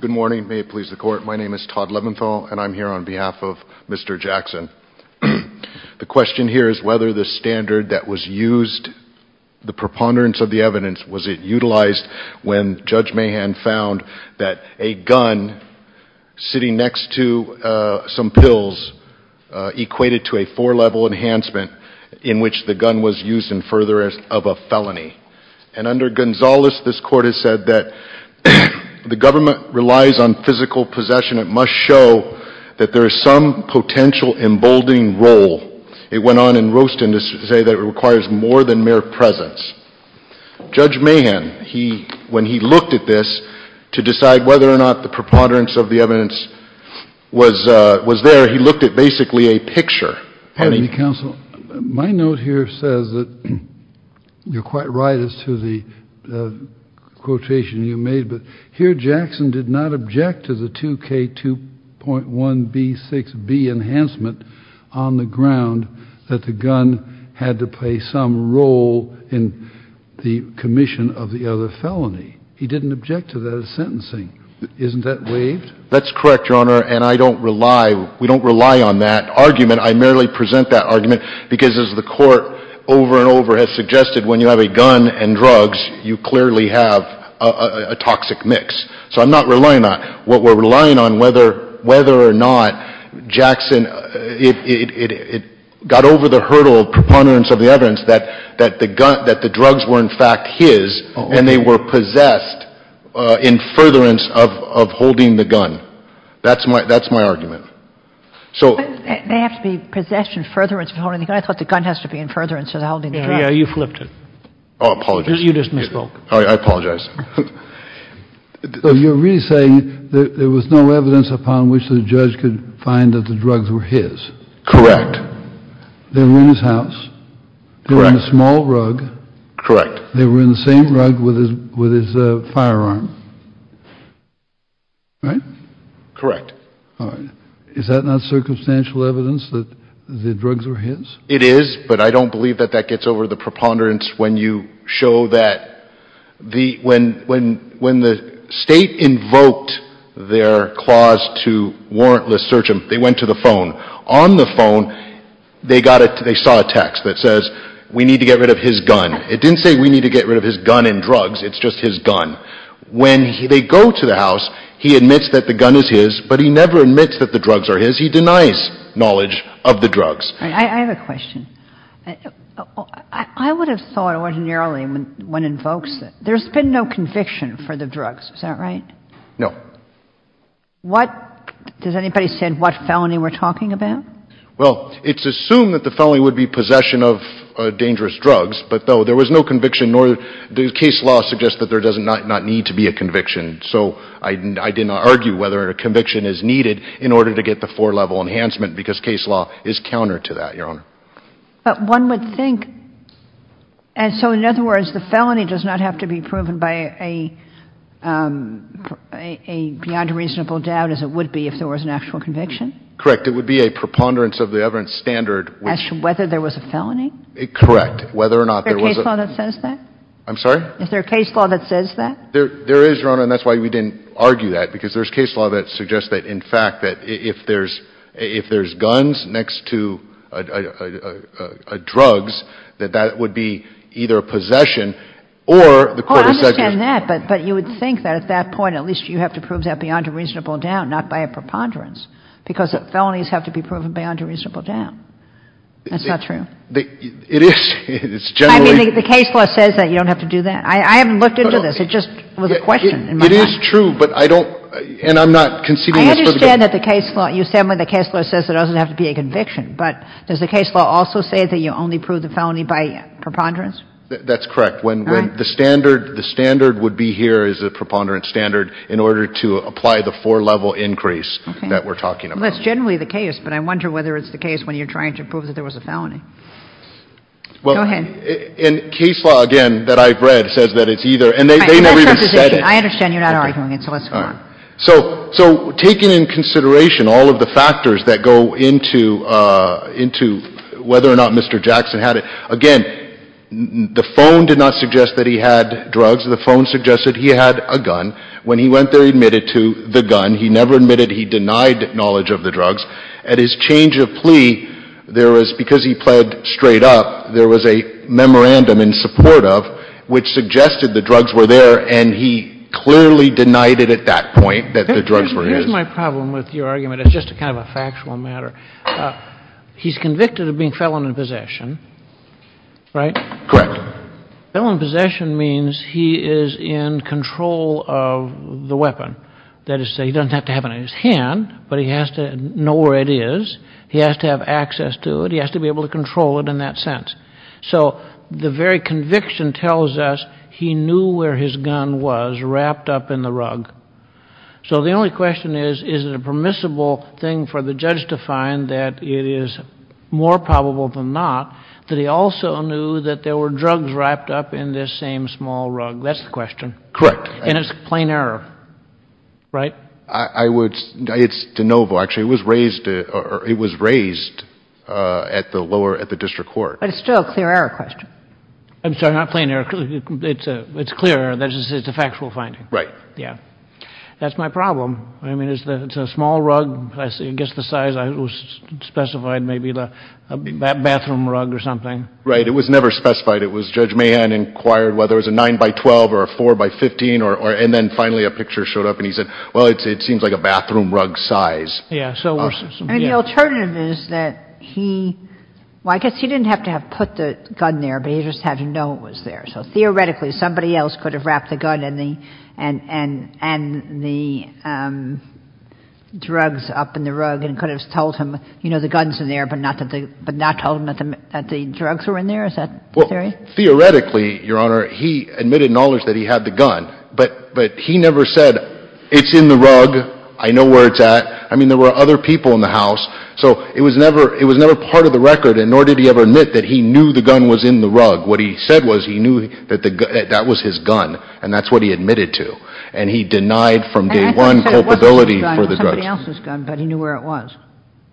Good morning. My name is Todd Leventhal and I'm here on behalf of Mr. Jackson. The question here is whether the standard that was used, the preponderance of the evidence, was it utilized when Judge Mahan found that a gun sitting next to some pills equated to a four-level enhancement in which the gun was used in furtherance of a felony. And under Gonzales, this Court has said that the government relies on physical possession. It must show that there is some potential emboldening role. It went on in Roeston to say that it requires more than mere presence. Judge Mahan, when he looked at this to decide whether or not the preponderance of the evidence was there, he looked at basically a picture. Pardon me, Counsel. My note here says that you're quite right as to the quotation you made, but here Jackson did not object to the 2K2.1B6B enhancement on the ground that the gun had to play some role in the commission of the other felony. He didn't object to that sentencing. Isn't that waived? That's correct, Your Honor, and I don't rely, we don't rely on that argument. I merely present that argument because as the Court over and over has suggested, when you have a gun and drugs, you clearly have a toxic mix. So I'm not relying on it. What we're relying on, whether or not Jackson, it got over the hurdle of preponderance of the evidence that the drugs were in fact his and they were possessed in furtherance of holding the gun. That's my argument. But they have to be possessed in furtherance of holding the gun. I thought the gun has to be in furtherance of holding the gun. Yeah, you flipped it. Oh, I apologize. You just misspoke. I apologize. So you're really saying that there was no evidence upon which the judge could find that the drugs were his? Correct. They were in his house. Correct. They were in a small rug. Correct. They were in the same rug with his firearm, right? Correct. All right. Is that not circumstantial evidence that the drugs were his? It is, but I don't believe that that gets over the preponderance when you show that when the State invoked their clause to warrantless search him, they went to the phone. On the phone, they saw a text that says, we need to get rid of his gun. It didn't say we need to get rid of his gun and drugs. It's just his gun. When they go to the house, he admits that the gun is his, but he never admits that the drugs are his. He denies knowledge of the drugs. I have a question. I would have thought ordinarily when invokes it, there's been no conviction for the drugs. Is that right? No. Does anybody understand what felony we're talking about? Well, it's assumed that the felony would be possession of dangerous drugs, but, no, there was no conviction. Case law suggests that there does not need to be a conviction, so I did not argue whether a conviction is needed in order to get the four-level enhancement because case law is counter to that, Your Honor. But one would think, and so, in other words, the felony does not have to be proven by a beyond reasonable doubt as it would be if there was an actual conviction? Correct. It would be a preponderance of the evidence standard. As to whether there was a felony? Correct. Is there a case law that says that? I'm sorry? Is there a case law that says that? There is, Your Honor, and that's why we didn't argue that, because there's case law that suggests that, in fact, that if there's guns next to drugs, that that would be either possession or the court has said there's no point. Oh, I understand that, but you would think that at that point at least you have to prove that beyond a reasonable doubt, not by a preponderance, because felonies have to be proven beyond a reasonable doubt. That's not true? It is. It's generally – I mean, the case law says that you don't have to do that. I haven't looked into this. It just was a question in my mind. It is true, but I don't – and I'm not conceding this for the – I understand that the case law – you stand by the case law says it doesn't have to be a conviction, but does the case law also say that you only prove the felony by preponderance? That's correct. When the standard – the standard would be here is a preponderance standard in order to apply the four-level increase that we're talking about. Well, that's generally the case, but I wonder whether it's the case when you're trying to prove that there was a felony. Go ahead. In case law, again, that I've read says that it's either – and they never even said it. I understand you're not arguing it, so let's move on. All right. So taking in consideration all of the factors that go into whether or not Mr. Jackson had it, again, the phone did not suggest that he had drugs. The phone suggested he had a gun. When he went there, he admitted to the gun. He never admitted he denied knowledge of the drugs. At his change of plea, there was – because he pled straight up, there was a memorandum in support of which suggested the drugs were there, and he clearly denied it at that point, that the drugs were his. Here's my problem with your argument. It's just kind of a factual matter. He's convicted of being felon in possession, right? Correct. Felon in possession means he is in control of the weapon. That is to say, he doesn't have to have it in his hand, but he has to know where it is. He has to have access to it. He has to be able to control it in that sense. So the very conviction tells us he knew where his gun was wrapped up in the rug. So the only question is, is it a permissible thing for the judge to find that it is more probable than not that he also knew that there were drugs wrapped up in this same small rug? That's the question. Correct. And it's a plain error, right? I would – it's de novo. Actually, it was raised at the lower – at the district court. But it's still a clear error question. I'm sorry, not plain error. It's clear error. It's a factual finding. Right. Yeah. That's my problem. I mean, it's a small rug. I guess the size was specified, maybe the bathroom rug or something. Right. It was never specified. It was Judge Mahan inquired whether it was a 9 by 12 or a 4 by 15, and then finally a picture showed up. And he said, well, it seems like a bathroom rug size. Yeah. And the alternative is that he – well, I guess he didn't have to have put the gun there, but he just had to know it was there. So theoretically, somebody else could have wrapped the gun and the drugs up in the rug and could have told him, you know, the gun's in there, but not told him that the drugs were in there? Is that the theory? Well, theoretically, Your Honor, he admitted knowledge that he had the gun, but he never said, it's in the rug, I know where it's at. I mean, there were other people in the house. So it was never part of the record, and nor did he ever admit that he knew the gun was in the rug. What he said was he knew that that was his gun, and that's what he admitted to. And he denied from day one culpability for the drugs. I thought he said it wasn't his gun. It was somebody else's gun, but he knew where it was.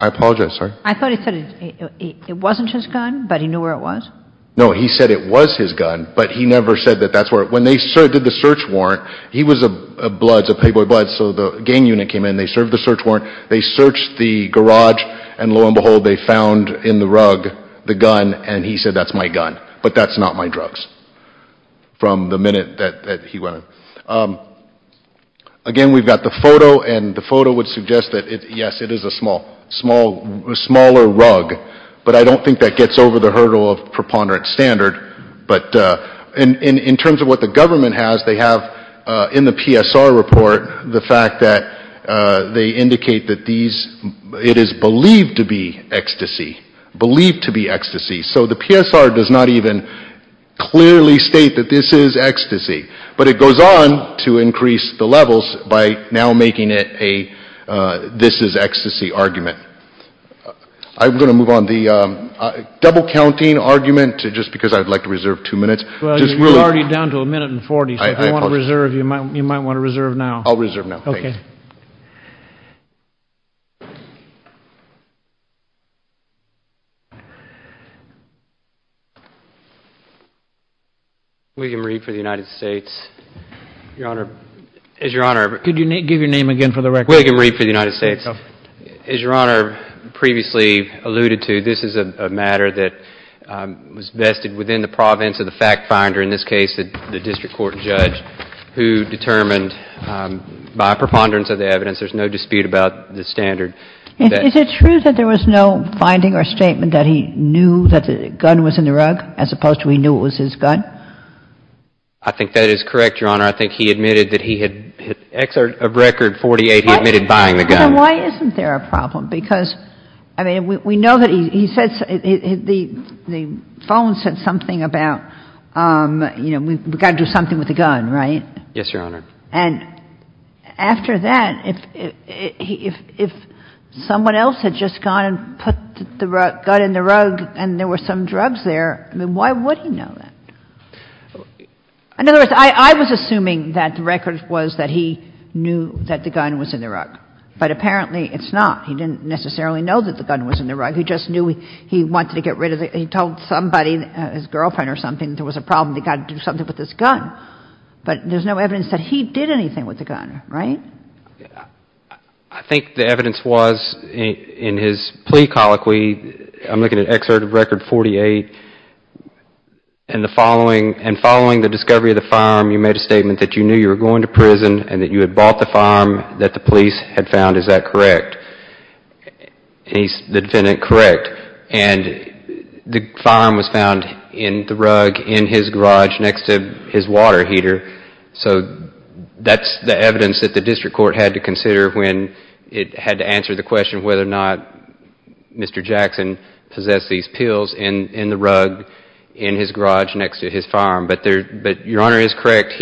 I apologize. Sorry? I thought he said it wasn't his gun, but he knew where it was. No, he said it was his gun, but he never said that that's where it – when they did the search warrant, he was a Bloods, a Playboy Bloods, so the gang unit came in. They served the search warrant. They searched the garage, and lo and behold, they found in the rug the gun, and he said, that's my gun. But that's not my drugs from the minute that he went in. Again, we've got the photo, and the photo would suggest that, yes, it is a smaller rug, but I don't think that gets over the hurdle of preponderance standard. But in terms of what the government has, they have in the PSR report the fact that they indicate that these – it is believed to be ecstasy. Believed to be ecstasy. So the PSR does not even clearly state that this is ecstasy. But it goes on to increase the levels by now making it a this is ecstasy argument. I'm going to move on. The double counting argument, just because I'd like to reserve two minutes. You're already down to a minute and 40, so if you want to reserve, you might want to reserve now. I'll reserve now. Okay. William Reed for the United States. Your Honor, as Your Honor – Could you give your name again for the record? William Reed for the United States. As Your Honor previously alluded to, this is a matter that was vested within the province of the fact finder, in this case the district court judge, who determined by a preponderance standard, there's no dispute about the standard. Is it true that there was no finding or statement that he knew that the gun was in the rug as opposed to he knew it was his gun? I think that is correct, Your Honor. I think he admitted that he had – record 48, he admitted buying the gun. So why isn't there a problem? Because, I mean, we know that he says – the phone said something about, you know, we've got to do something with the gun, right? Yes, Your Honor. And after that, if someone else had just gone and put the gun in the rug and there were some drugs there, I mean, why would he know that? In other words, I was assuming that the record was that he knew that the gun was in the rug. But apparently it's not. He didn't necessarily know that the gun was in the rug. He just knew he wanted to get rid of it. He told somebody, his girlfriend or something, there was a problem, they've got to do something with this gun. But there's no evidence that he did anything with the gun, right? I think the evidence was in his plea colloquy. I'm looking at Excerpt of Record 48. And following the discovery of the firearm, you made a statement that you knew you were going to prison and that you had bought the firearm that the police had found. Is that correct? The defendant, correct. And the firearm was found in the rug in his garage next to his water heater. So that's the evidence that the district court had to consider when it had to answer the question whether or not Mr. Jackson possessed these pills in the rug in his garage next to his firearm. But Your Honor is correct.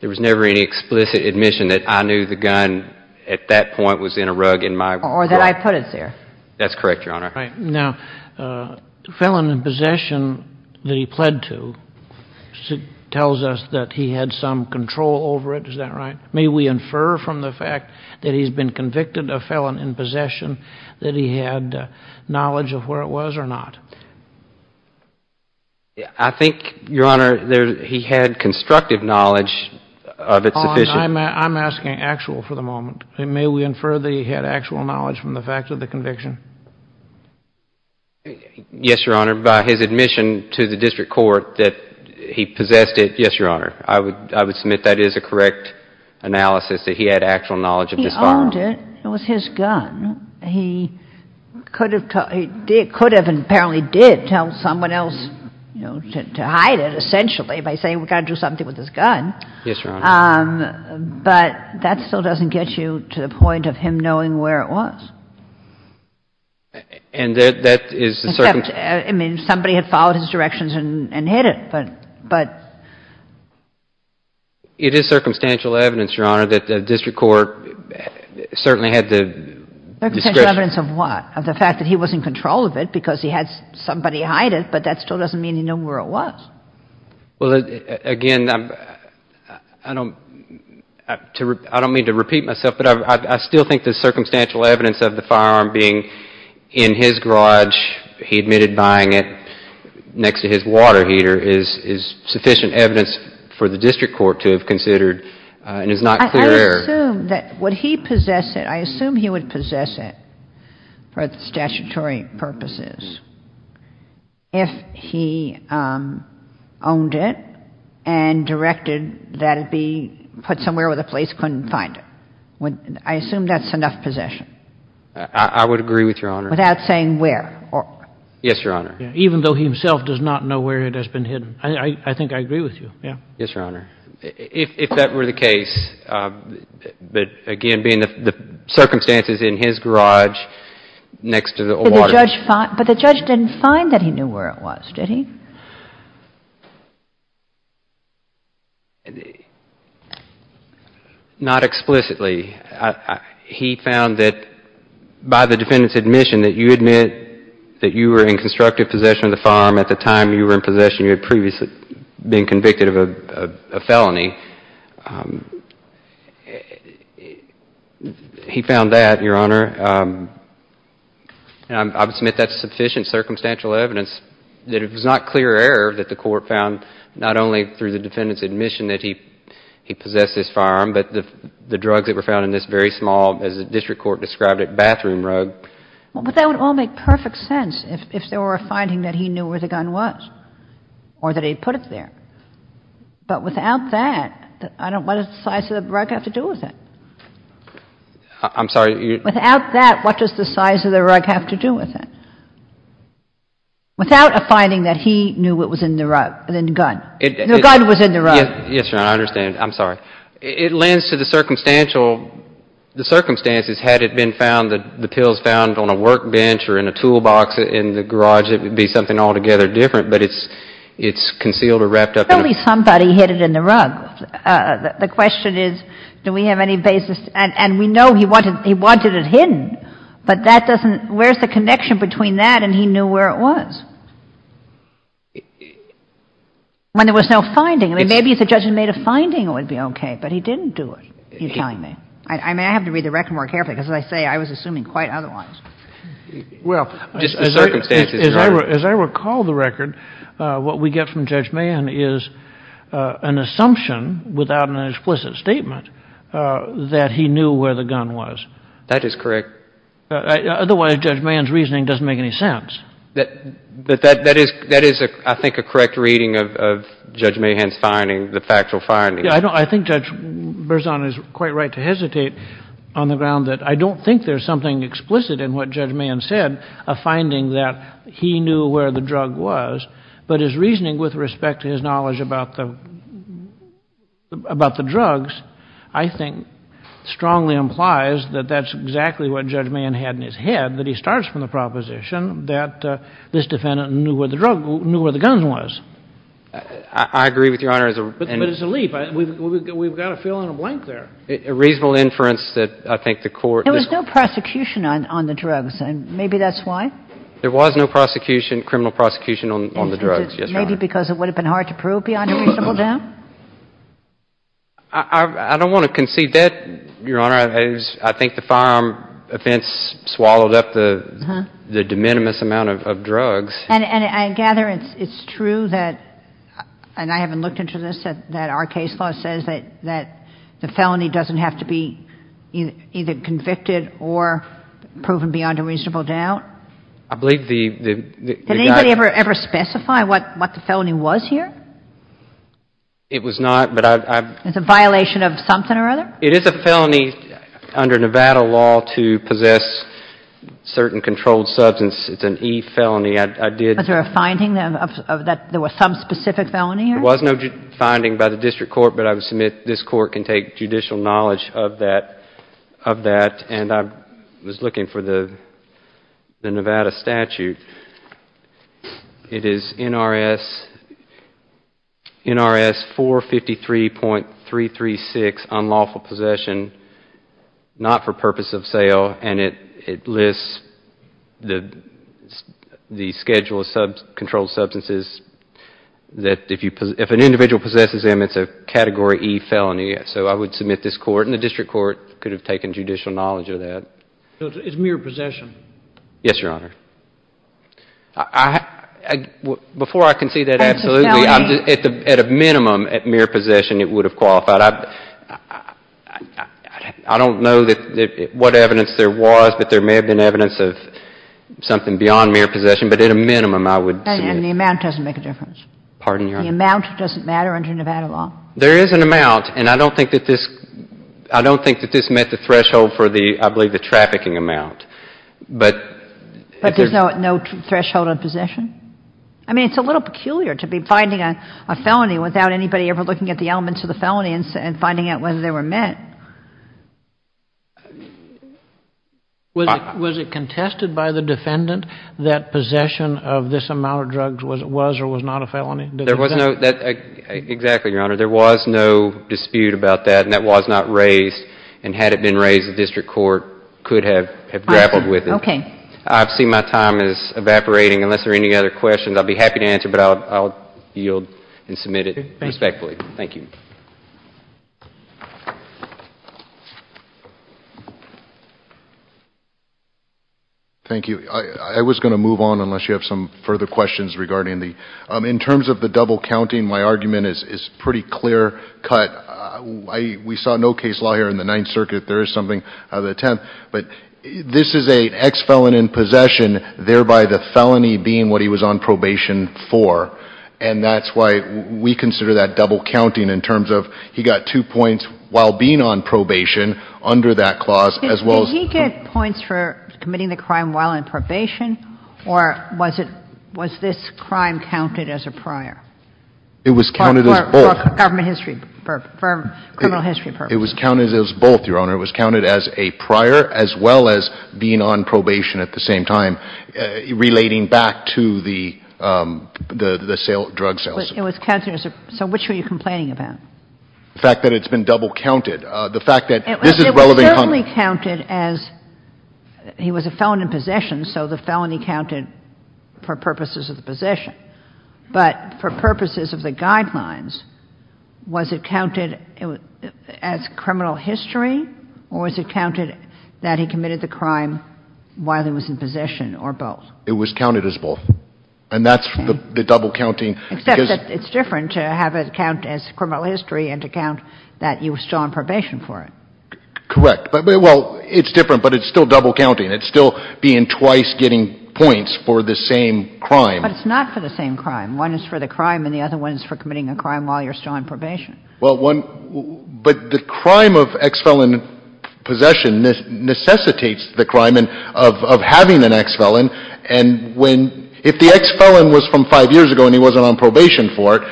There was never any explicit admission that I knew the gun at that point was in a rug in my garage. Or that I put it there. That's correct, Your Honor. Now, felon in possession that he pled to tells us that he had some control over it. Is that right? May we infer from the fact that he's been convicted of felon in possession that he had knowledge of where it was or not? I think, Your Honor, he had constructive knowledge of its sufficient. I'm asking actual for the moment. May we infer that he had actual knowledge from the fact of the conviction? Yes, Your Honor. By his admission to the district court that he possessed it, yes, Your Honor. I would submit that is a correct analysis that he had actual knowledge of this firearm. He owned it. It was his gun. He could have and apparently did tell someone else to hide it essentially by saying we've got to do something with this gun. Yes, Your Honor. But that still doesn't get you to the point of him knowing where it was. And that is the circumstance. I mean, somebody had followed his directions and hid it, but. It is circumstantial evidence, Your Honor, that the district court certainly had the discretion. Circumstantial evidence of what? Of the fact that he was in control of it because he had somebody hide it, but that still doesn't mean he knew where it was. Well, again, I don't mean to repeat myself, but I still think the circumstantial evidence of the firearm being in his garage, he admitted buying it next to his water heater is sufficient evidence for the district court to have considered and is not clear. Would he possess it? I assume he would possess it for statutory purposes if he owned it and directed that it be put somewhere where the police couldn't find it. I assume that's enough possession. I would agree with Your Honor. Without saying where. Yes, Your Honor. Even though he himself does not know where it has been hidden. I think I agree with you. Yes, Your Honor. If that were the case, but again, being the circumstances in his garage next to the water heater. But the judge didn't find that he knew where it was, did he? Not explicitly. He found that by the defendant's admission that you admit that you were in constructive possession of the firearm at the time you were in possession, you had previously been convicted of a felony. He found that, Your Honor. I would submit that's sufficient circumstantial evidence that it was not clear error that the court found, not only through the defendant's admission that he possessed this firearm, but the drugs that were found in this very small, as the district court described it, bathroom rug. But that would all make perfect sense if there were a finding that he knew where the gun was or that he put it there. But without that, what does the size of the rug have to do with it? I'm sorry. Without that, what does the size of the rug have to do with it? Without a finding that he knew what was in the rug, the gun. The gun was in the rug. Yes, Your Honor. I understand. I'm sorry. It lends to the circumstantial, the circumstances. Had it been found, the pills found on a workbench or in a toolbox in the garage, it would be something altogether different. But it's concealed or wrapped up in a- Only somebody hid it in the rug. The question is, do we have any basis? And we know he wanted it hidden. But that doesn't, where's the connection between that and he knew where it was? When there was no finding. I mean, maybe if the judge had made a finding, it would be okay. But he didn't do it, you're telling me. I mean, I have to read the record more carefully because, as I say, I was assuming quite otherwise. Well- Just the circumstances, Your Honor. As I recall the record, what we get from Judge Mahan is an assumption without an explicit statement that he knew where the gun was. That is correct. Otherwise, Judge Mahan's reasoning doesn't make any sense. But that is, I think, a correct reading of Judge Mahan's finding, the factual finding. Yeah, I think Judge Berzon is quite right to hesitate on the ground that I don't think there's something explicit in what Judge Mahan said, a finding that he knew where the drug was. But his reasoning with respect to his knowledge about the drugs, I think, strongly implies that that's exactly what Judge Mahan had in his head, that he starts from the proposition that this defendant knew where the gun was. I agree with Your Honor. But it's a leap. We've got to fill in a blank there. A reasonable inference that I think the court- There was no prosecution on the drugs. Maybe that's why. There was no prosecution, criminal prosecution, on the drugs, yes, Your Honor. Maybe because it would have been hard to prove beyond a reasonable doubt? I don't want to concede that, Your Honor. I think the firearm offense swallowed up the de minimis amount of drugs. And I gather it's true that, and I haven't looked into this, that our case law says that the felony doesn't have to be either convicted or proven beyond a reasonable doubt? I believe the- Did anybody ever specify what the felony was here? It was not, but I- It's a violation of something or other? It is a felony under Nevada law to possess certain controlled substances. It's an E felony. I did- Was there a finding that there was some specific felony here? There was no finding by the district court, but I would submit this court can take judicial knowledge of that. And I was looking for the Nevada statute. It is NRS 453.336, unlawful possession, not for purpose of sale, and it lists the schedule of controlled substances that if an individual possesses them, it's a Category E felony. So I would submit this court, and the district court could have taken judicial knowledge of that. So it's mere possession? Yes, Your Honor. Before I can see that absolutely, at a minimum, at mere possession, it would have qualified. I don't know what evidence there was, but there may have been evidence of something beyond mere possession, but at a minimum, I would- And the amount doesn't make a difference? Pardon, Your Honor? The amount doesn't matter under Nevada law? There is an amount, and I don't think that this met the threshold for the, I believe, the trafficking amount. But there's no threshold on possession? I mean, it's a little peculiar to be finding a felony without anybody ever looking at the elements of the felony and finding out whether they were met. Was it contested by the defendant that possession of this amount of drugs was or was not a felony? Exactly, Your Honor. There was no dispute about that, and that was not raised, and had it been raised, the district court could have grappled with it. Okay. I see my time is evaporating. Unless there are any other questions, I'll be happy to answer, but I'll yield and submit it respectfully. Thank you. Thank you. I was going to move on unless you have some further questions regarding the- In terms of the double counting, my argument is pretty clear-cut. We saw no case law here in the Ninth Circuit. There is something out of the tenth, but this is an ex-felon in possession, thereby the felony being what he was on probation for. And that's why we consider that double counting in terms of he got two points while being on probation under that clause, as well as- Was he committing the crime while on probation, or was this crime counted as a prior? It was counted as both. For criminal history purposes. It was counted as both, Your Honor. It was counted as a prior, as well as being on probation at the same time, relating back to the drug salesman. So which were you complaining about? The fact that it's been double counted. The fact that this is relevant- It was only counted as he was a felon in possession, so the felony counted for purposes of the possession. But for purposes of the guidelines, was it counted as criminal history, or was it counted that he committed the crime while he was in possession, or both? It was counted as both. And that's the double counting- Except that it's different to have it count as criminal history and to count that you were still on probation for it. Correct. Well, it's different, but it's still double counting. It's still being twice getting points for the same crime. But it's not for the same crime. One is for the crime, and the other one is for committing a crime while you're still on probation. Well, one- But the crime of ex-felon possession necessitates the crime of having an ex-felon. And when- if the ex-felon was from five years ago and he wasn't on probation for it,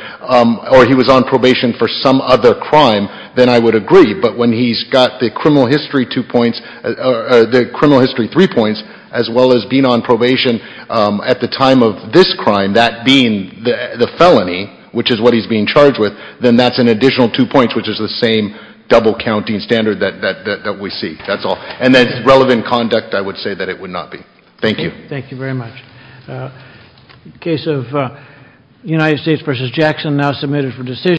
or he was on probation for some other crime, then I would agree. But when he's got the criminal history two points- the criminal history three points, as well as being on probation at the time of this crime, that being the felony, which is what he's being charged with, then that's an additional two points, which is the same double counting standard that we see. That's all. And then relevant conduct, I would say that it would not be. Thank you. Thank you very much. In the case of United States v. Jackson, now submitted for decision.